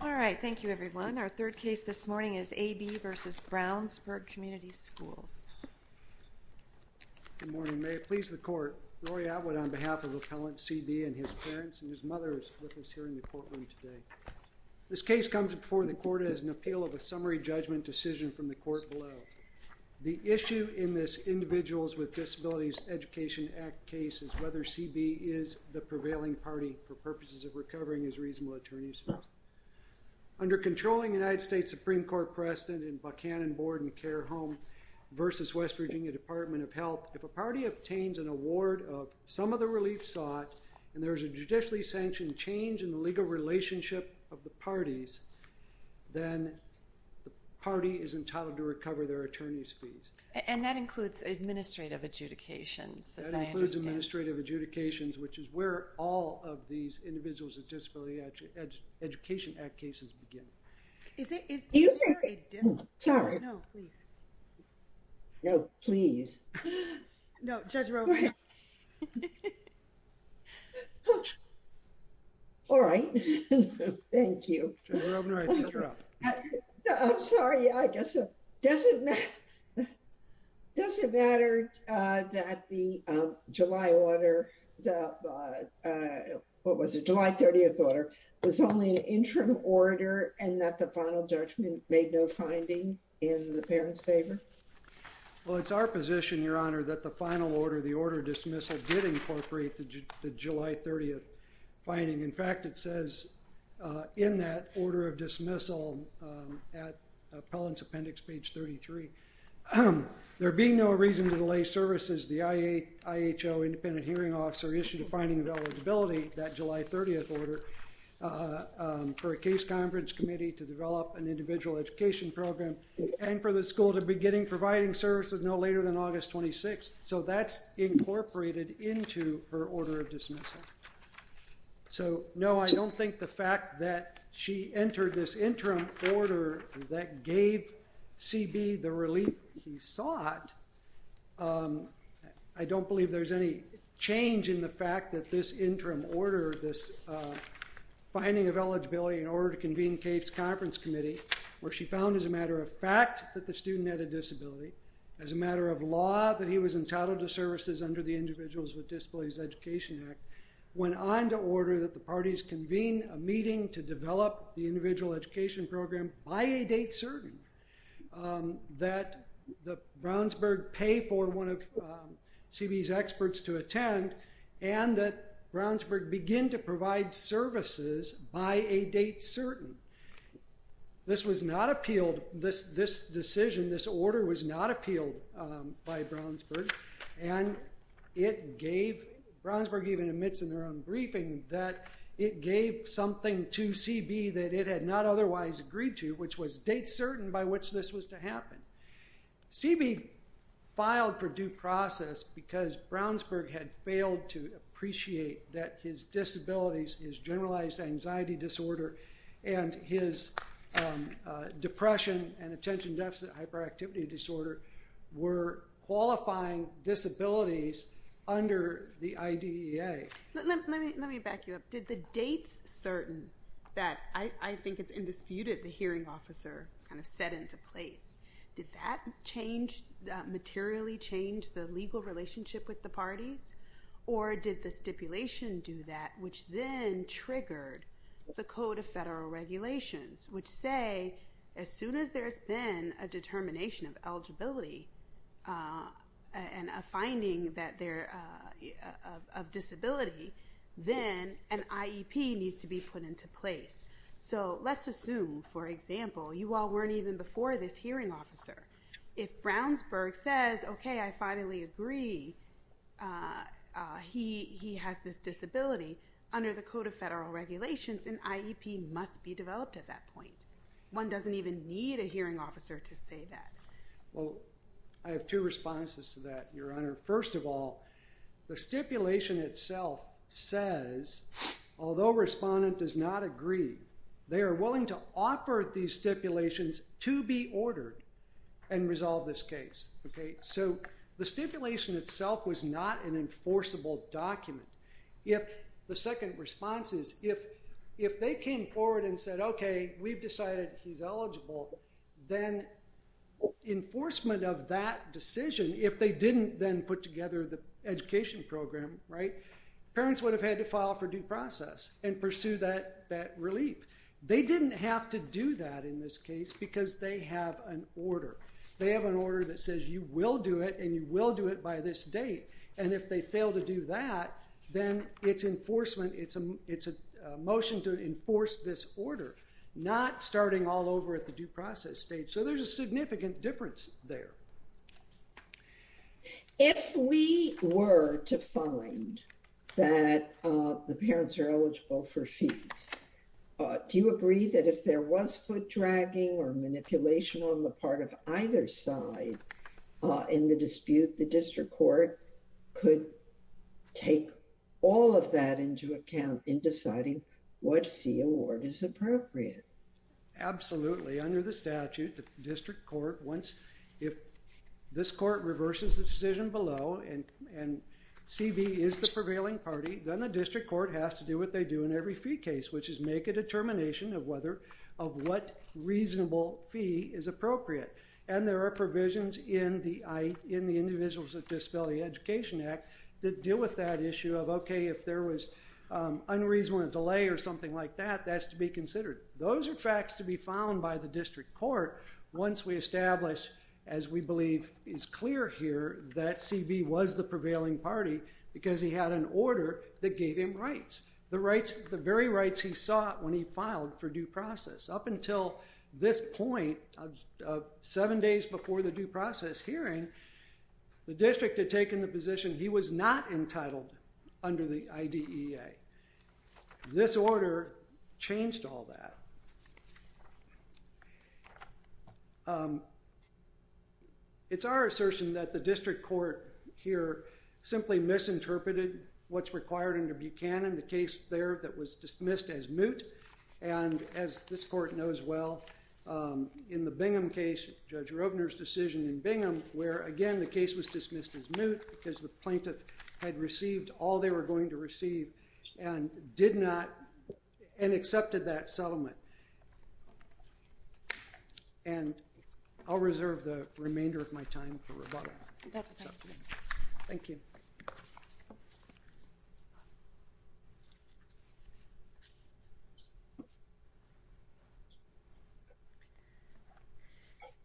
All right, thank you everyone. Our third case this morning is A. B. v. Brownsburg Community Schools. Good morning. May it please the court, Rory Atwood on behalf of Appellant C. B. and his parents and his mother is with us here in the courtroom today. This case comes before the court as an appeal of a summary judgment decision from the court below. The issue in this Individuals with Disabilities Education Act case is whether C. B. is the prevailing party for purposes of recovering his reasonable attorneyship. Under controlling United States Supreme Court precedent in Buchanan Board and Care Home v. West Virginia Department of Health, if a party obtains an award of some of the relief sought and there is a judicially sanctioned change in the legal relationship of the parties, then the party is entitled to recover their attorney's fees. And that includes administrative adjudications, as I understand. That includes administrative adjudications, which is where all of these Individuals with Disabilities Education Act cases begin. Is there a difference? No, please. No, please. No, Judge Roberts. All right. Thank you. Judge Robner, I think you're up. I'm sorry. I guess so. Does it matter that the July order, what was it, July 30th order, was only an interim order and that the final judgment made no finding in the parents' favor? Well, it's our position, Your Honor, that the final order, the order of dismissal, did incorporate the July 30th finding. In fact, it says in that order of dismissal at appellant's appendix, page 33, there being no reason to delay services, the IHO independent hearing officer issued a finding of eligibility, that July 30th order, for a case conference committee to develop an individual education program and for the school to begin providing services no later than August 26th. So that's incorporated into her order of dismissal. So, no, I don't think the fact that she entered this interim order that gave CB the relief he sought, I don't believe there's any change in the fact that this interim order, this finding of eligibility in order to convene CAFE's conference committee, where she found as a matter of fact that the student had a disability, as a matter of law that he was entitled to services under the Individuals with Disabilities Education Act, went on to order that the parties convene a meeting to develop the individual education program by a date certain, that Brownsburg pay for one of CB's experts to attend, and that Brownsburg begin to provide services by a date certain. This was not appealed, this decision, this order was not appealed by Brownsburg, and it gave, Brownsburg even admits in their own briefing that it gave something to CB that it had not otherwise agreed to, which was date certain by which this was to happen. CB filed for due process because Brownsburg had failed to appreciate that his disabilities, his generalized anxiety disorder, and his depression and attention deficit hyperactivity disorder were qualifying disabilities under the IDEA. Let me back you up, did the dates certain, that I think it's indisputed the hearing officer kind of set into place, did that change, materially change the legal relationship with the parties, or did the stipulation do that, which then triggered the Code of Federal Regulations, which say as soon as there's been a determination of eligibility, and a finding of disability, then an IEP needs to be put into place. So let's assume, for example, you all weren't even before this hearing officer, if Brownsburg says, okay, I finally agree, he has this disability, under the Code of Federal Regulations, an IEP must be developed at that point. One doesn't even need a hearing officer to say that. Well, I have two responses to that, Your Honor. First of all, the stipulation itself says, although respondent does not agree, they are willing to offer these stipulations to be ordered and resolve this case. So the stipulation itself was not an enforceable document. The second response is, if they came forward and said, okay, we've decided he's eligible, then enforcement of that decision, if they didn't then put together the education program, parents would have had to file for due process and pursue that relief. They didn't have to do that in this case because they have an order. They have an order that says you will do it, and you will do it by this date. And if they fail to do that, then it's enforcement, it's a motion to enforce this order, not starting all over at the due process stage. So there's a significant difference there. If we were to find that the parents are eligible for fees, do you agree that if there was foot dragging or manipulation on the part of either side in the dispute, the district court could take all of that into account in deciding what fee award is appropriate? Absolutely. Under the statute, the district court wants, if this court reverses the decision below and CB is the prevailing party, then the district court has to do what they do in every fee case, which is make a determination of what reasonable fee is appropriate. And there are provisions in the Individuals with Disability Education Act that deal with that issue of, okay, if there was unreasonable delay or something like that, that's to be considered. Those are facts to be found by the district court once we establish, as we believe is clear here, that CB was the prevailing party because he had an order that gave him rights, the very rights he sought when he filed for due process. Up until this point, seven days before the due process hearing, the district had taken the position he was not entitled under the IDEA. This order changed all that. It's our assertion that the district court here simply misinterpreted what's required under Buchanan, the case there that was dismissed as moot. And as this court knows well, in the Bingham case, Judge Robner's decision in Bingham, where again the case was dismissed as moot because the plaintiff had received all they were going to receive and did not, and accepted that settlement. And I'll reserve the remainder of my time for rebuttal. Thank you.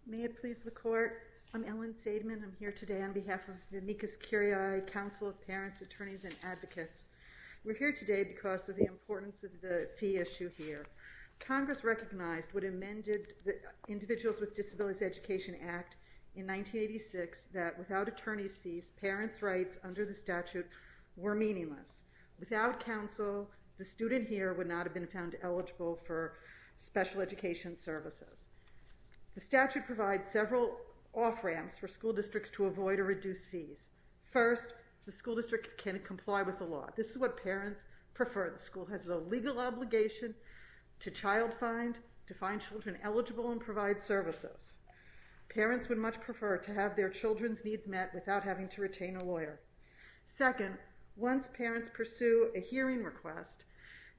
May it please the court. I'm Ellen Seidman. I'm here today on behalf of the Amicus Curiae Council of Parents, Attorneys, and Advocates. We're here today because of the importance of the fee issue here. Congress recognized what amended the Individuals with Disabilities Education Act in 1986 that without attorney's fees, parents' rights under the statute were meaningless. Without counsel, the student here would not have been found eligible for special education services. The statute provides several off-ramps for school districts to avoid or reduce fees. First, the school district can comply with the law. This is what parents prefer. The school has the legal obligation to child-find, to find children eligible and provide services. Parents would much prefer to have their children's needs met without having to retain a lawyer. Second, once parents pursue a hearing request,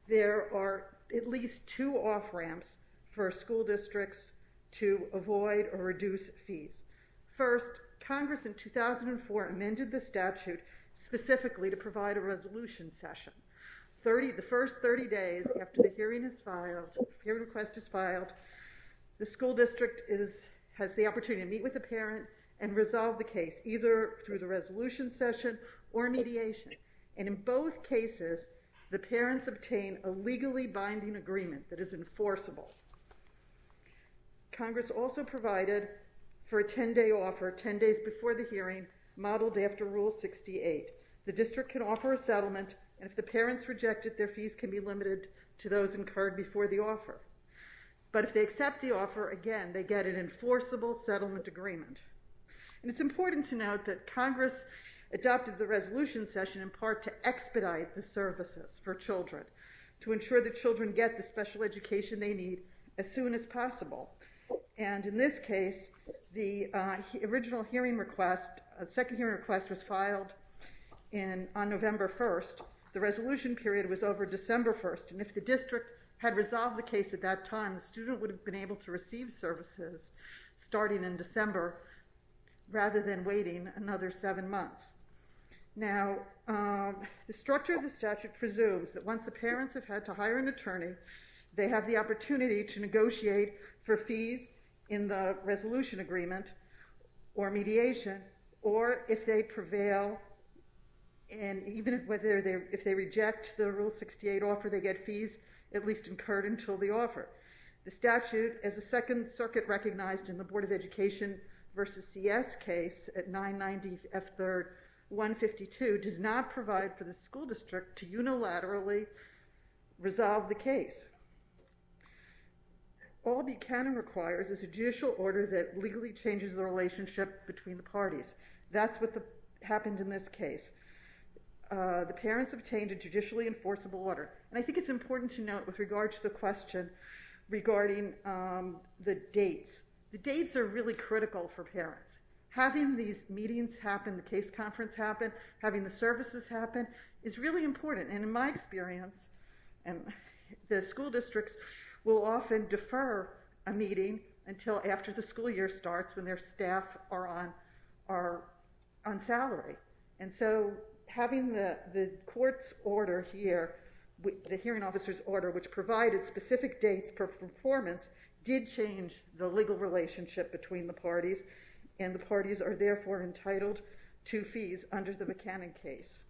there are at least two off-ramps for school districts to avoid or reduce fees. First, Congress in 2004 amended the statute specifically to provide a resolution session. The first 30 days after the hearing request is filed, the school district has the opportunity to meet with the parent and resolve the case, either through the resolution session or mediation. And in both cases, the parents obtain a legally binding agreement that is enforceable. Congress also provided for a 10-day offer 10 days before the hearing, modeled after Rule 68. The district can offer a settlement, and if the parents reject it, their fees can be limited to those incurred before the offer. But if they accept the offer, again, they get an enforceable settlement agreement. And it's important to note that Congress adopted the resolution session in part to expedite the services for children, to ensure that children get the special education they need as soon as possible. And in this case, the original hearing request, second hearing request was filed on November 1st. The resolution period was over December 1st, and if the district had resolved the case at that time, the student would have been able to receive services starting in December rather than waiting another seven months. Now, the structure of the statute presumes that once the parents have had to hire an attorney, they have the opportunity to negotiate for fees in the resolution agreement or mediation, or if they prevail, and even if they reject the Rule 68 offer, they get fees at least incurred until the offer. The statute, as the Second Circuit recognized in the Board of Education v. CS case at 990 F. 3rd, and 952, does not provide for the school district to unilaterally resolve the case. All Buchanan requires is a judicial order that legally changes the relationship between the parties. That's what happened in this case. The parents obtained a judicially enforceable order, and I think it's important to note with regard to the question regarding the dates. The dates are really critical for parents. Having these meetings happen, the case conference happen, having the services happen, is really important. And in my experience, the school districts will often defer a meeting until after the school year starts when their staff are on salary. And so having the court's order here, the hearing officer's order, which provided specific dates for performance, did change the legal relationship between the parties, and the parties are therefore entitled to fees under the Buchanan case.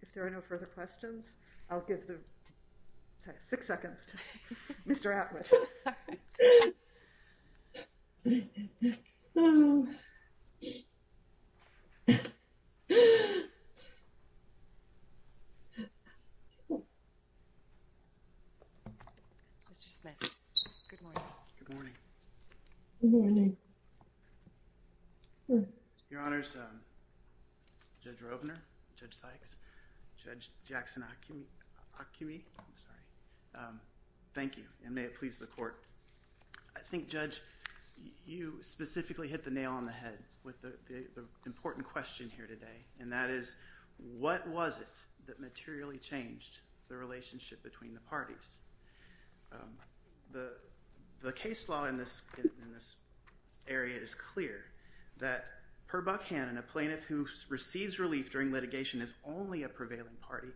If there are no further questions, I'll give the six seconds to Mr. Atwood. Mr. Smith, good morning. Good morning. Good morning. Your Honors, Judge Rovner, Judge Sykes, Judge Jackson-Acme, Acme, I'm sorry. Thank you, and may it please the court. I think, Judge, you specifically hit the nail on the head with the important question here today, and that is, what was it that materially changed the relationship between the parties? The case law in this area is clear that per Buchanan, a plaintiff who receives relief during litigation is only a prevailing party.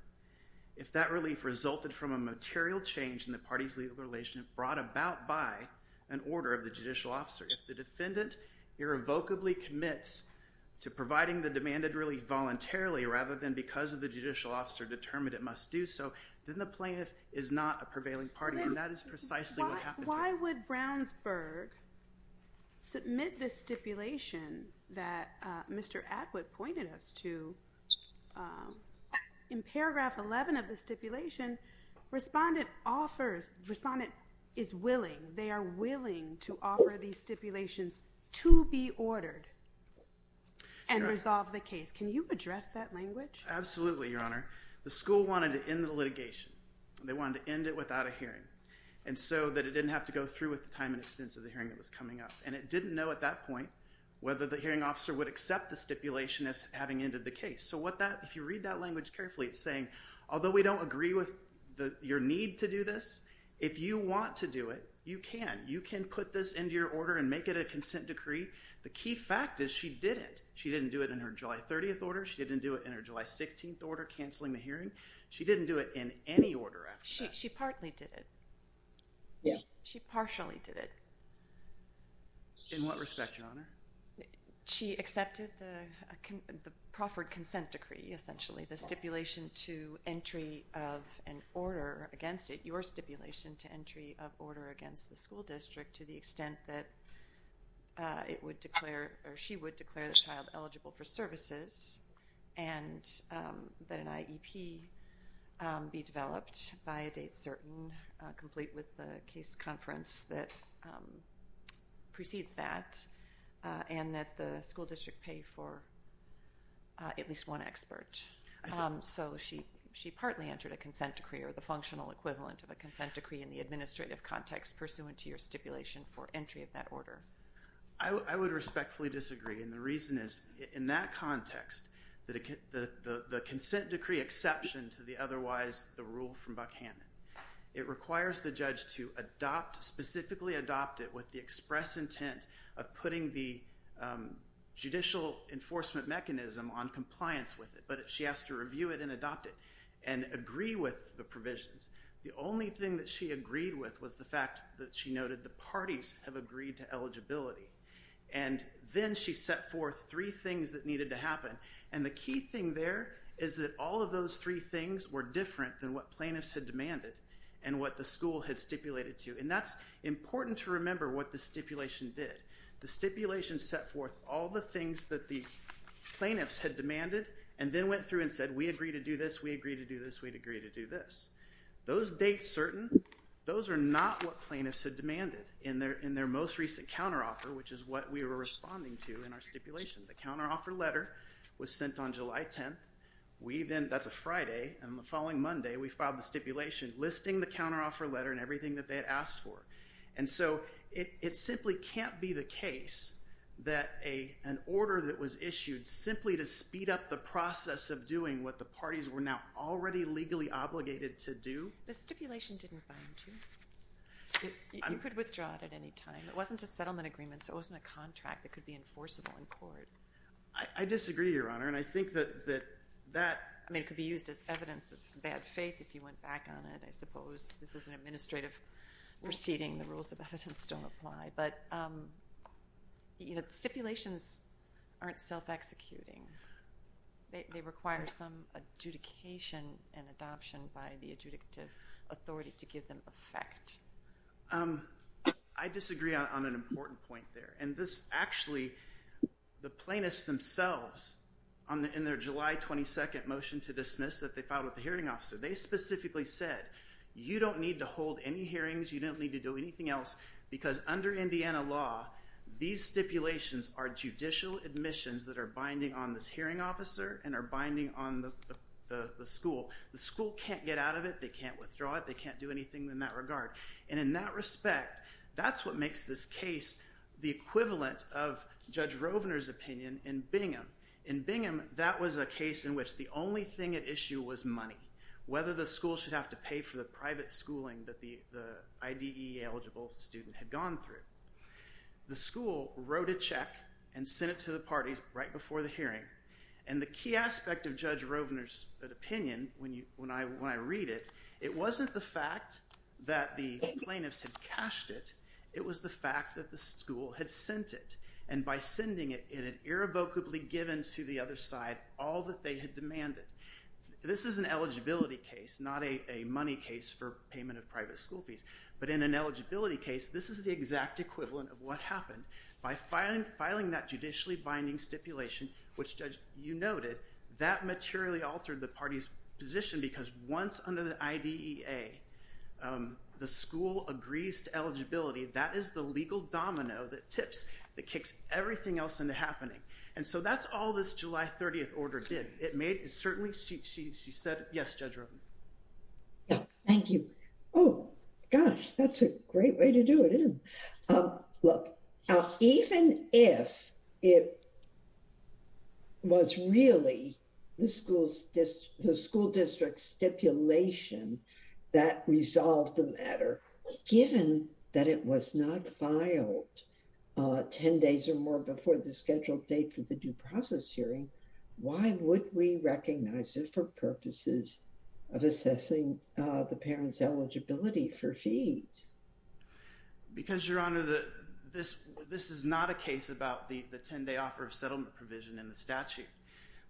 If that relief resulted from a material change in the party's legal relationship brought about by an order of the judicial officer, if the defendant irrevocably commits to providing the demanded relief voluntarily, rather than because of the judicial officer determined it must do so, then the plaintiff is not a prevailing party, and that is precisely what happened here. Why would Brownsburg submit this stipulation that Mr. Atwood pointed us to? In paragraph 11 of the stipulation, respondent offers, respondent is willing, they are willing to offer these stipulations to be ordered and resolve the case. Can you address that language? Absolutely, Your Honor. The school wanted to end the litigation. They wanted to end it without a hearing, and so that it didn't have to go through with the time and expense of the hearing or whether the hearing officer would accept the stipulation as having ended the case. So if you read that language carefully, it's saying although we don't agree with your need to do this, if you want to do it, you can. You can put this into your order and make it a consent decree. The key fact is she didn't. She didn't do it in her July 30th order. She didn't do it in her July 16th order canceling the hearing. She didn't do it in any order after that. She partly did it. She partially did it. She accepted the proffered consent decree, essentially the stipulation to entry of an order against it, your stipulation to entry of order against the school district to the extent that it would declare, or she would declare the child eligible for services and that an IEP be developed by a date certain, complete with the case conference that precedes that, and that the school district pay for at least one expert. So she partly entered a consent decree or the functional equivalent of a consent decree in the administrative context pursuant to your stipulation for entry of that order. I would respectfully disagree. And the reason is in that context, the consent decree exception to the otherwise the rule from Buckhannon, it requires the judge to adopt, specifically adopt it with the express intent of putting the judicial enforcement mechanism on compliance with it. But she asked to review it and adopt it and agree with the provisions. The only thing that she agreed with was the fact that she noted the parties have agreed to eligibility. And then she set forth three things that needed to happen. And the key thing there is that all of those three things were different than what plaintiffs had demanded and what the school had stipulated to. Those are what the stipulation did. The stipulation set forth all the things that the plaintiffs had demanded and then went through and said, we agree to do this, we agree to do this, we'd agree to do this. Those dates certain, those are not what plaintiffs had demanded in their most recent counteroffer, which is what we were responding to in our stipulation. The counteroffer letter was sent on July 10th. We then, that's a Friday and the following Monday, we filed the stipulation listing the counteroffer letter and everything that they had asked for. And so it simply can't be the case that an order that was issued simply to speed up the process of doing what the parties were now already legally obligated to do. The stipulation didn't bind you. You could withdraw it at any time. It wasn't a settlement agreement, so it wasn't a contract that could be enforceable in court. I disagree, Your Honor, and I think that that, and I suppose this is an administrative proceeding, the rules of evidence don't apply, but stipulations aren't self-executing. They require some adjudication and adoption by the adjudicative authority to give them effect. I disagree on an important point there, and this actually, the plaintiffs themselves, in their July 22nd motion to dismiss that they filed with the hearing officer, you don't need to hold any hearings. You don't need to do anything else because under Indiana law, these stipulations are judicial admissions that are binding on this hearing officer and are binding on the school. The school can't get out of it. They can't withdraw it. They can't do anything in that regard, and in that respect, that's what makes this case the equivalent of Judge Rovner's opinion in Bingham. In Bingham, that was a case in which the only thing at issue was money, whether the school should have to pay for the private schooling that the IDE-eligible student had gone through. The school wrote a check and sent it to the parties right before the hearing, and the key aspect of Judge Rovner's opinion, when I read it, it wasn't the fact that the plaintiffs had cashed it. It was the fact that the school had sent it, and by sending it, it had irrevocably given to the other side all that they had demanded. In an eligibility case, not a money case for payment of private school fees, but in an eligibility case, this is the exact equivalent of what happened. By filing that judicially binding stipulation, which, Judge, you noted, that materially altered the party's position because once under the IDEA, the school agrees to eligibility, that is the legal domino that tips, that kicks everything else into happening, and so that's all this July 30th order did. It made, it certainly, she said, yes, Judge Rovner. Yeah, thank you. Oh, gosh, that's a great way to do it, isn't it? Look, even if it was really the school district's stipulation that resolved the matter, given that it was not filed 10 days or more before the scheduled date for the due process hearing, why didn't we recognize it for purposes of assessing the parent's eligibility for fees? Because, Your Honor, this is not a case about the 10-day offer of settlement provision in the statute.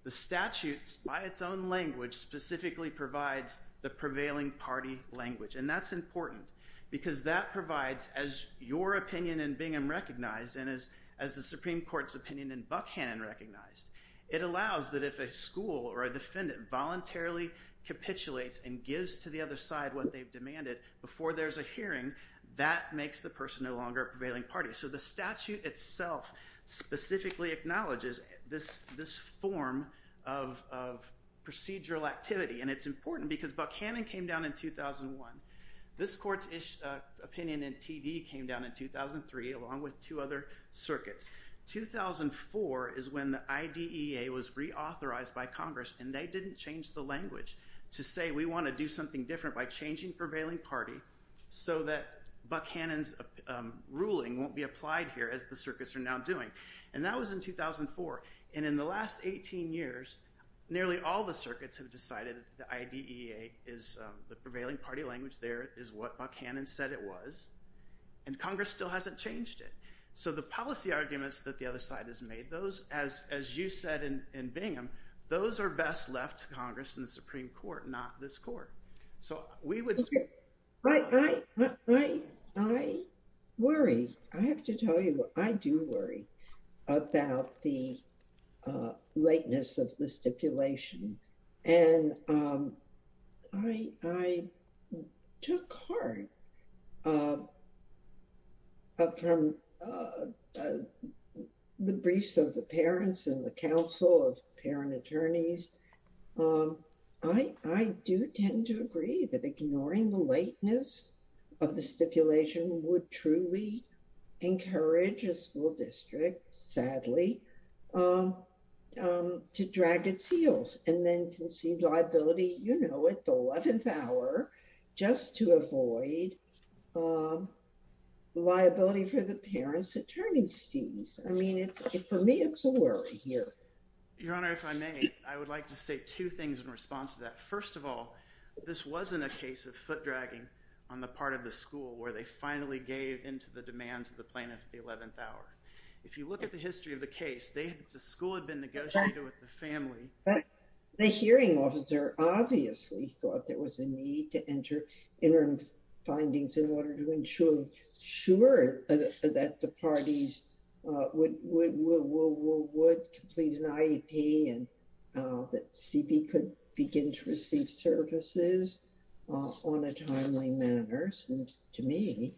The statute, by its own language, specifically provides the prevailing party language, and that's important because that provides, as your opinion in Bingham recognized and as the Supreme Court's opinion in Buckhannon recognized, it allows that if a school or a defendant voluntarily capitulates and gives to the other side what they've demanded before there's a hearing, that makes the person no longer a prevailing party. So the statute itself specifically acknowledges this form of procedural activity, and it's important because Buckhannon came down in 2001. This court's opinion in TD came down in 2003 along with two other circuits. 2004 is when the IDEA was reauthorized by Congress, and they didn't change the language to say we want to do something different by changing prevailing party so that Buckhannon's ruling won't be applied here as the circuits are now doing, and that was in 2004. And in the last 18 years, nearly all the circuits have decided that the IDEA is the prevailing party language there, is what Buckhannon said it was, and Congress still hasn't changed it. Those, as you said in Bingham, those are best left to Congress and the Supreme Court, not this court. So we would... I worry. I have to tell you, I do worry about the lateness of the stipulation, and I took heart from the briefs of the parents and the council of parent attorneys. I do tend to agree that ignoring the lateness of the stipulation would truly encourage a school district, sadly, to drag its heels and then concede liability, you know, at the 11th hour just to avoid liability for the parents' attorney students. I mean, for me, it's a worry here. Your Honor, if I may, I would like to say two things in response to that. First of all, this wasn't a case of foot dragging on the part of the school where they finally gave into the demands of the plaintiff at the 11th hour. If you look at the history of the case, the school had been negotiated with the family. The hearing officer obviously thought there was a need to enter interim findings in order to ensure that the parties would complete an IEP and that CB could begin to receive services on a timely manner, seems to me.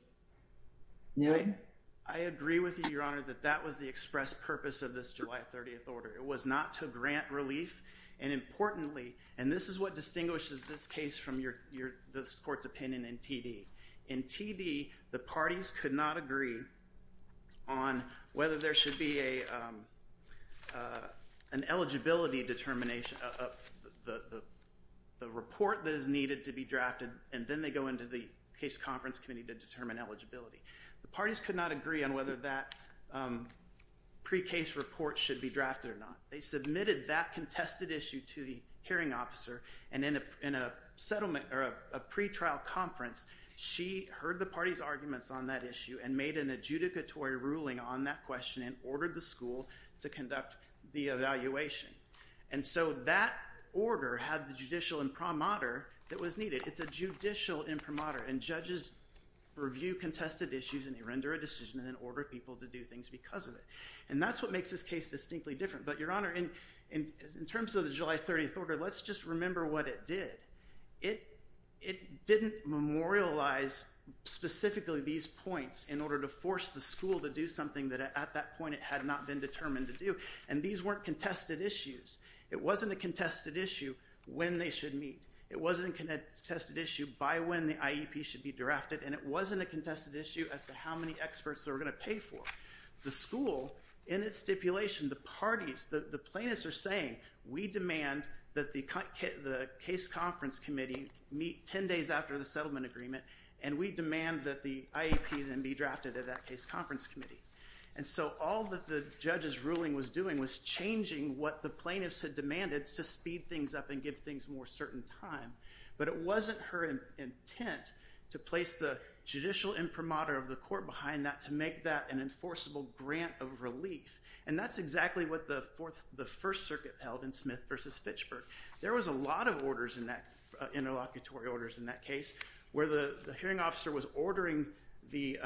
I agree with you, Your Honor, that that was the express purpose of this July 30th order. It was not to grant relief. And importantly, and this is what distinguishes this case from this court's opinion in TD. In TD, the parties could not agree on whether there should be an eligibility determination of the report that is needed to be drafted. And then they go into the case conference committee to determine eligibility. The parties could not agree on whether that pre-case report should be drafted or not. They submitted that contested issue to the hearing officer. And in a settlement or a pre-trial conference, she heard the party's arguments on that issue and made an adjudicatory ruling on that question and ordered the school to conduct the evaluation. And so that order had the judicial imprimatur that was needed. It's a judicial imprimatur and judges review contested issues and they render a decision and then order people to do things because of it. And that's what makes this case distinctly different. But Your Honor, in terms of the July 30th order, let's just remember what it did. It didn't memorialize specifically these points in order to force the school to do something that at that point it had not been determined to do. And these weren't contested issues. It wasn't a contested issue when they should meet. It wasn't a contested issue by when the IEP should be drafted and it wasn't a contested issue as to how many experts they were going to pay for. The school, in its stipulation, the parties, the plaintiffs are saying, we demand that the case conference committee meet 10 days after the settlement agreement and we demand that the IEP then be drafted at that case conference committee. And so, all that the judge's ruling was doing was changing what the plaintiffs had demanded to speed things up and give things more certain time. But it wasn't her intent to place the judicial imprimatur of the court behind that to make that an enforceable grant of relief. what the First Circuit held in Smith versus Fitchburg. There was a lot of orders in that, interlocutory orders in that case where the hearing officer was ordering the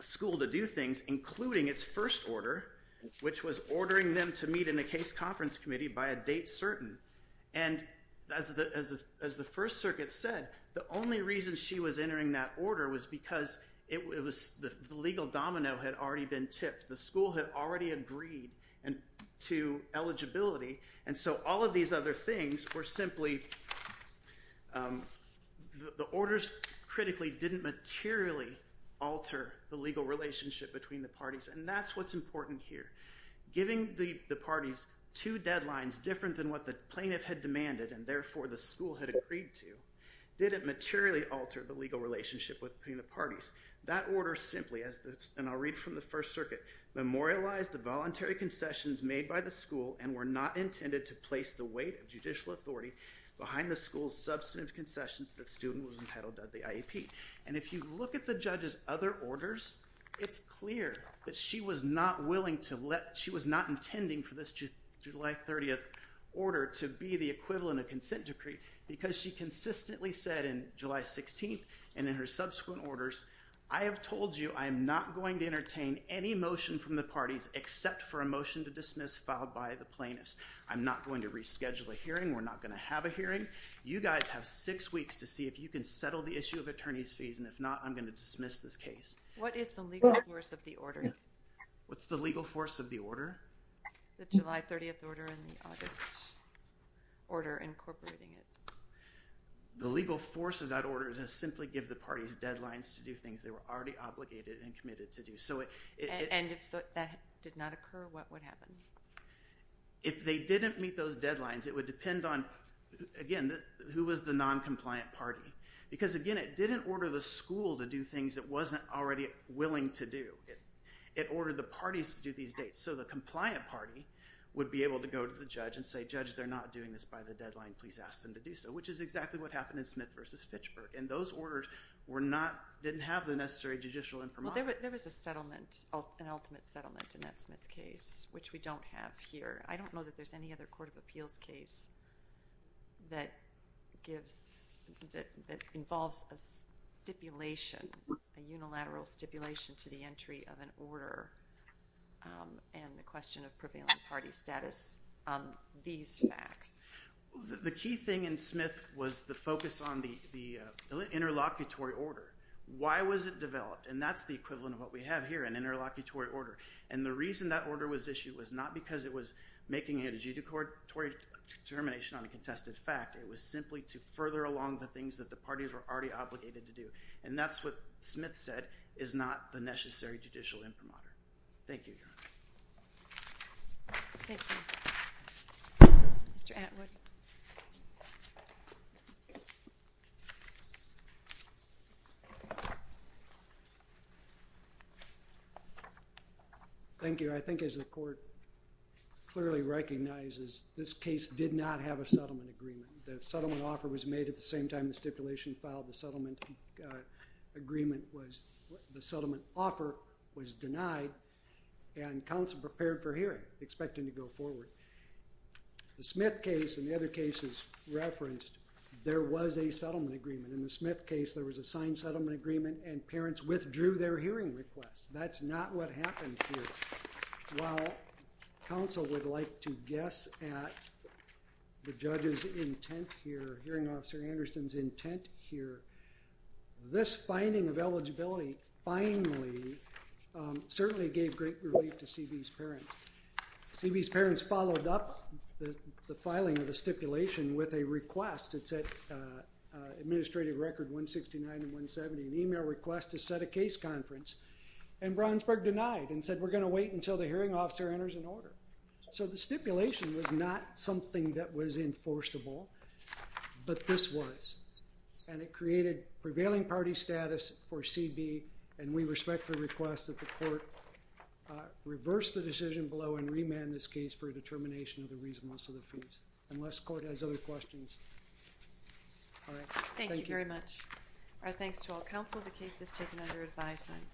school to do things including its first order, which was ordering them to meet in a case conference committee by a date certain. And, as the First Circuit said, the only reason she was entering that order was because it was, the legal domino had already been tipped. The school had already agreed to eligibility and so all of these other things were simply, the orders critically didn't materialize and didn't materially alter the legal relationship between the parties and that's what's important here. Giving the parties two deadlines different than what the plaintiff had demanded and therefore the school had agreed to didn't materially alter the legal relationship between the parties. That order simply, and I'll read from the First Circuit, memorialized the voluntary concessions made by the school and were not intended to place the weight of judicial authority behind the school's substantive concessions that the student who was entitled to the IEP. And if you look at the judge's other orders, it's clear that she was not willing to let, she was not intending for this July 30th order to be the equivalent of consent decree because she consistently said in July 16th and in her subsequent orders, I have told you I am not going to entertain any motion from the parties except for a motion to dismiss filed by the plaintiffs. I'm not going to reschedule a hearing. We're not going to have a hearing. You guys have six weeks to see if you can settle the issue of attorney's fees and if not, I'm going to dismiss this case. What is the legal force of the order? What's the legal force of the order? The July 30th order and the August order incorporating it. The legal force of that order is to simply give the parties deadlines to do things they were already obligated and committed to do. And if that did not occur, what would happen? If they didn't meet those deadlines, it would depend on, again, who was the non-compliant party? Because, again, it didn't order the school to do things it wasn't already willing to do. It ordered the parties to do these dates. So the compliant party would be able to go to the judge and say, judge, they're not doing this right. didn't meet the deadline, please ask them to do so. Which is exactly what happened in Smith v. Fitchburg. And those orders didn't have the necessary judicial imprimatur. There was an ultimate settlement in that Smith case which we don't have here. I don't know if there's a question of prevailing party status on these facts. The key thing in Smith was the focus on the interlocutory order. Why was it developed? And that's the equivalent of what we have here, an interlocutory order. And the reason that order was issued was not because it was making a judicatory determination on a contested fact. It was simply to further along the things that the parties were already obligated to do. And that's what Smith said is not the necessary judicial imprimatur. Thank you, Your Honor. Thank you. Mr. Atwood. Thank you. Your Honor, I think as the court clearly recognizes, this case did not have a settlement agreement. The settlement offer was made at the same time the stipulation filed. The settlement offer was denied and counsel prepared for hearing, expecting to go forward. The Smith case and the other cases referenced, there was a settlement agreement. In the Smith case, there was a signed settlement agreement and parents withdrew their hearing request. That's not what happened here. While counsel would like to guess at the judge's intent here, hearing officer Anderson's intent here, this finding of eligibility finally certainly gave great relief to CB's parents. CB's parents followed up the filing of the stipulation with a request. It said administrative record 169 and 170, an email request to set a case conference and Brownsburg denied and said we're going to wait until the hearing officer enters an order. So the stipulation was not something that was enforceable, but this was. And it created prevailing party status for CB and we respectfully request that the court reverse the decision below and remand this case for a determination of the reasonableness of the fees. Unless court has other Thank you.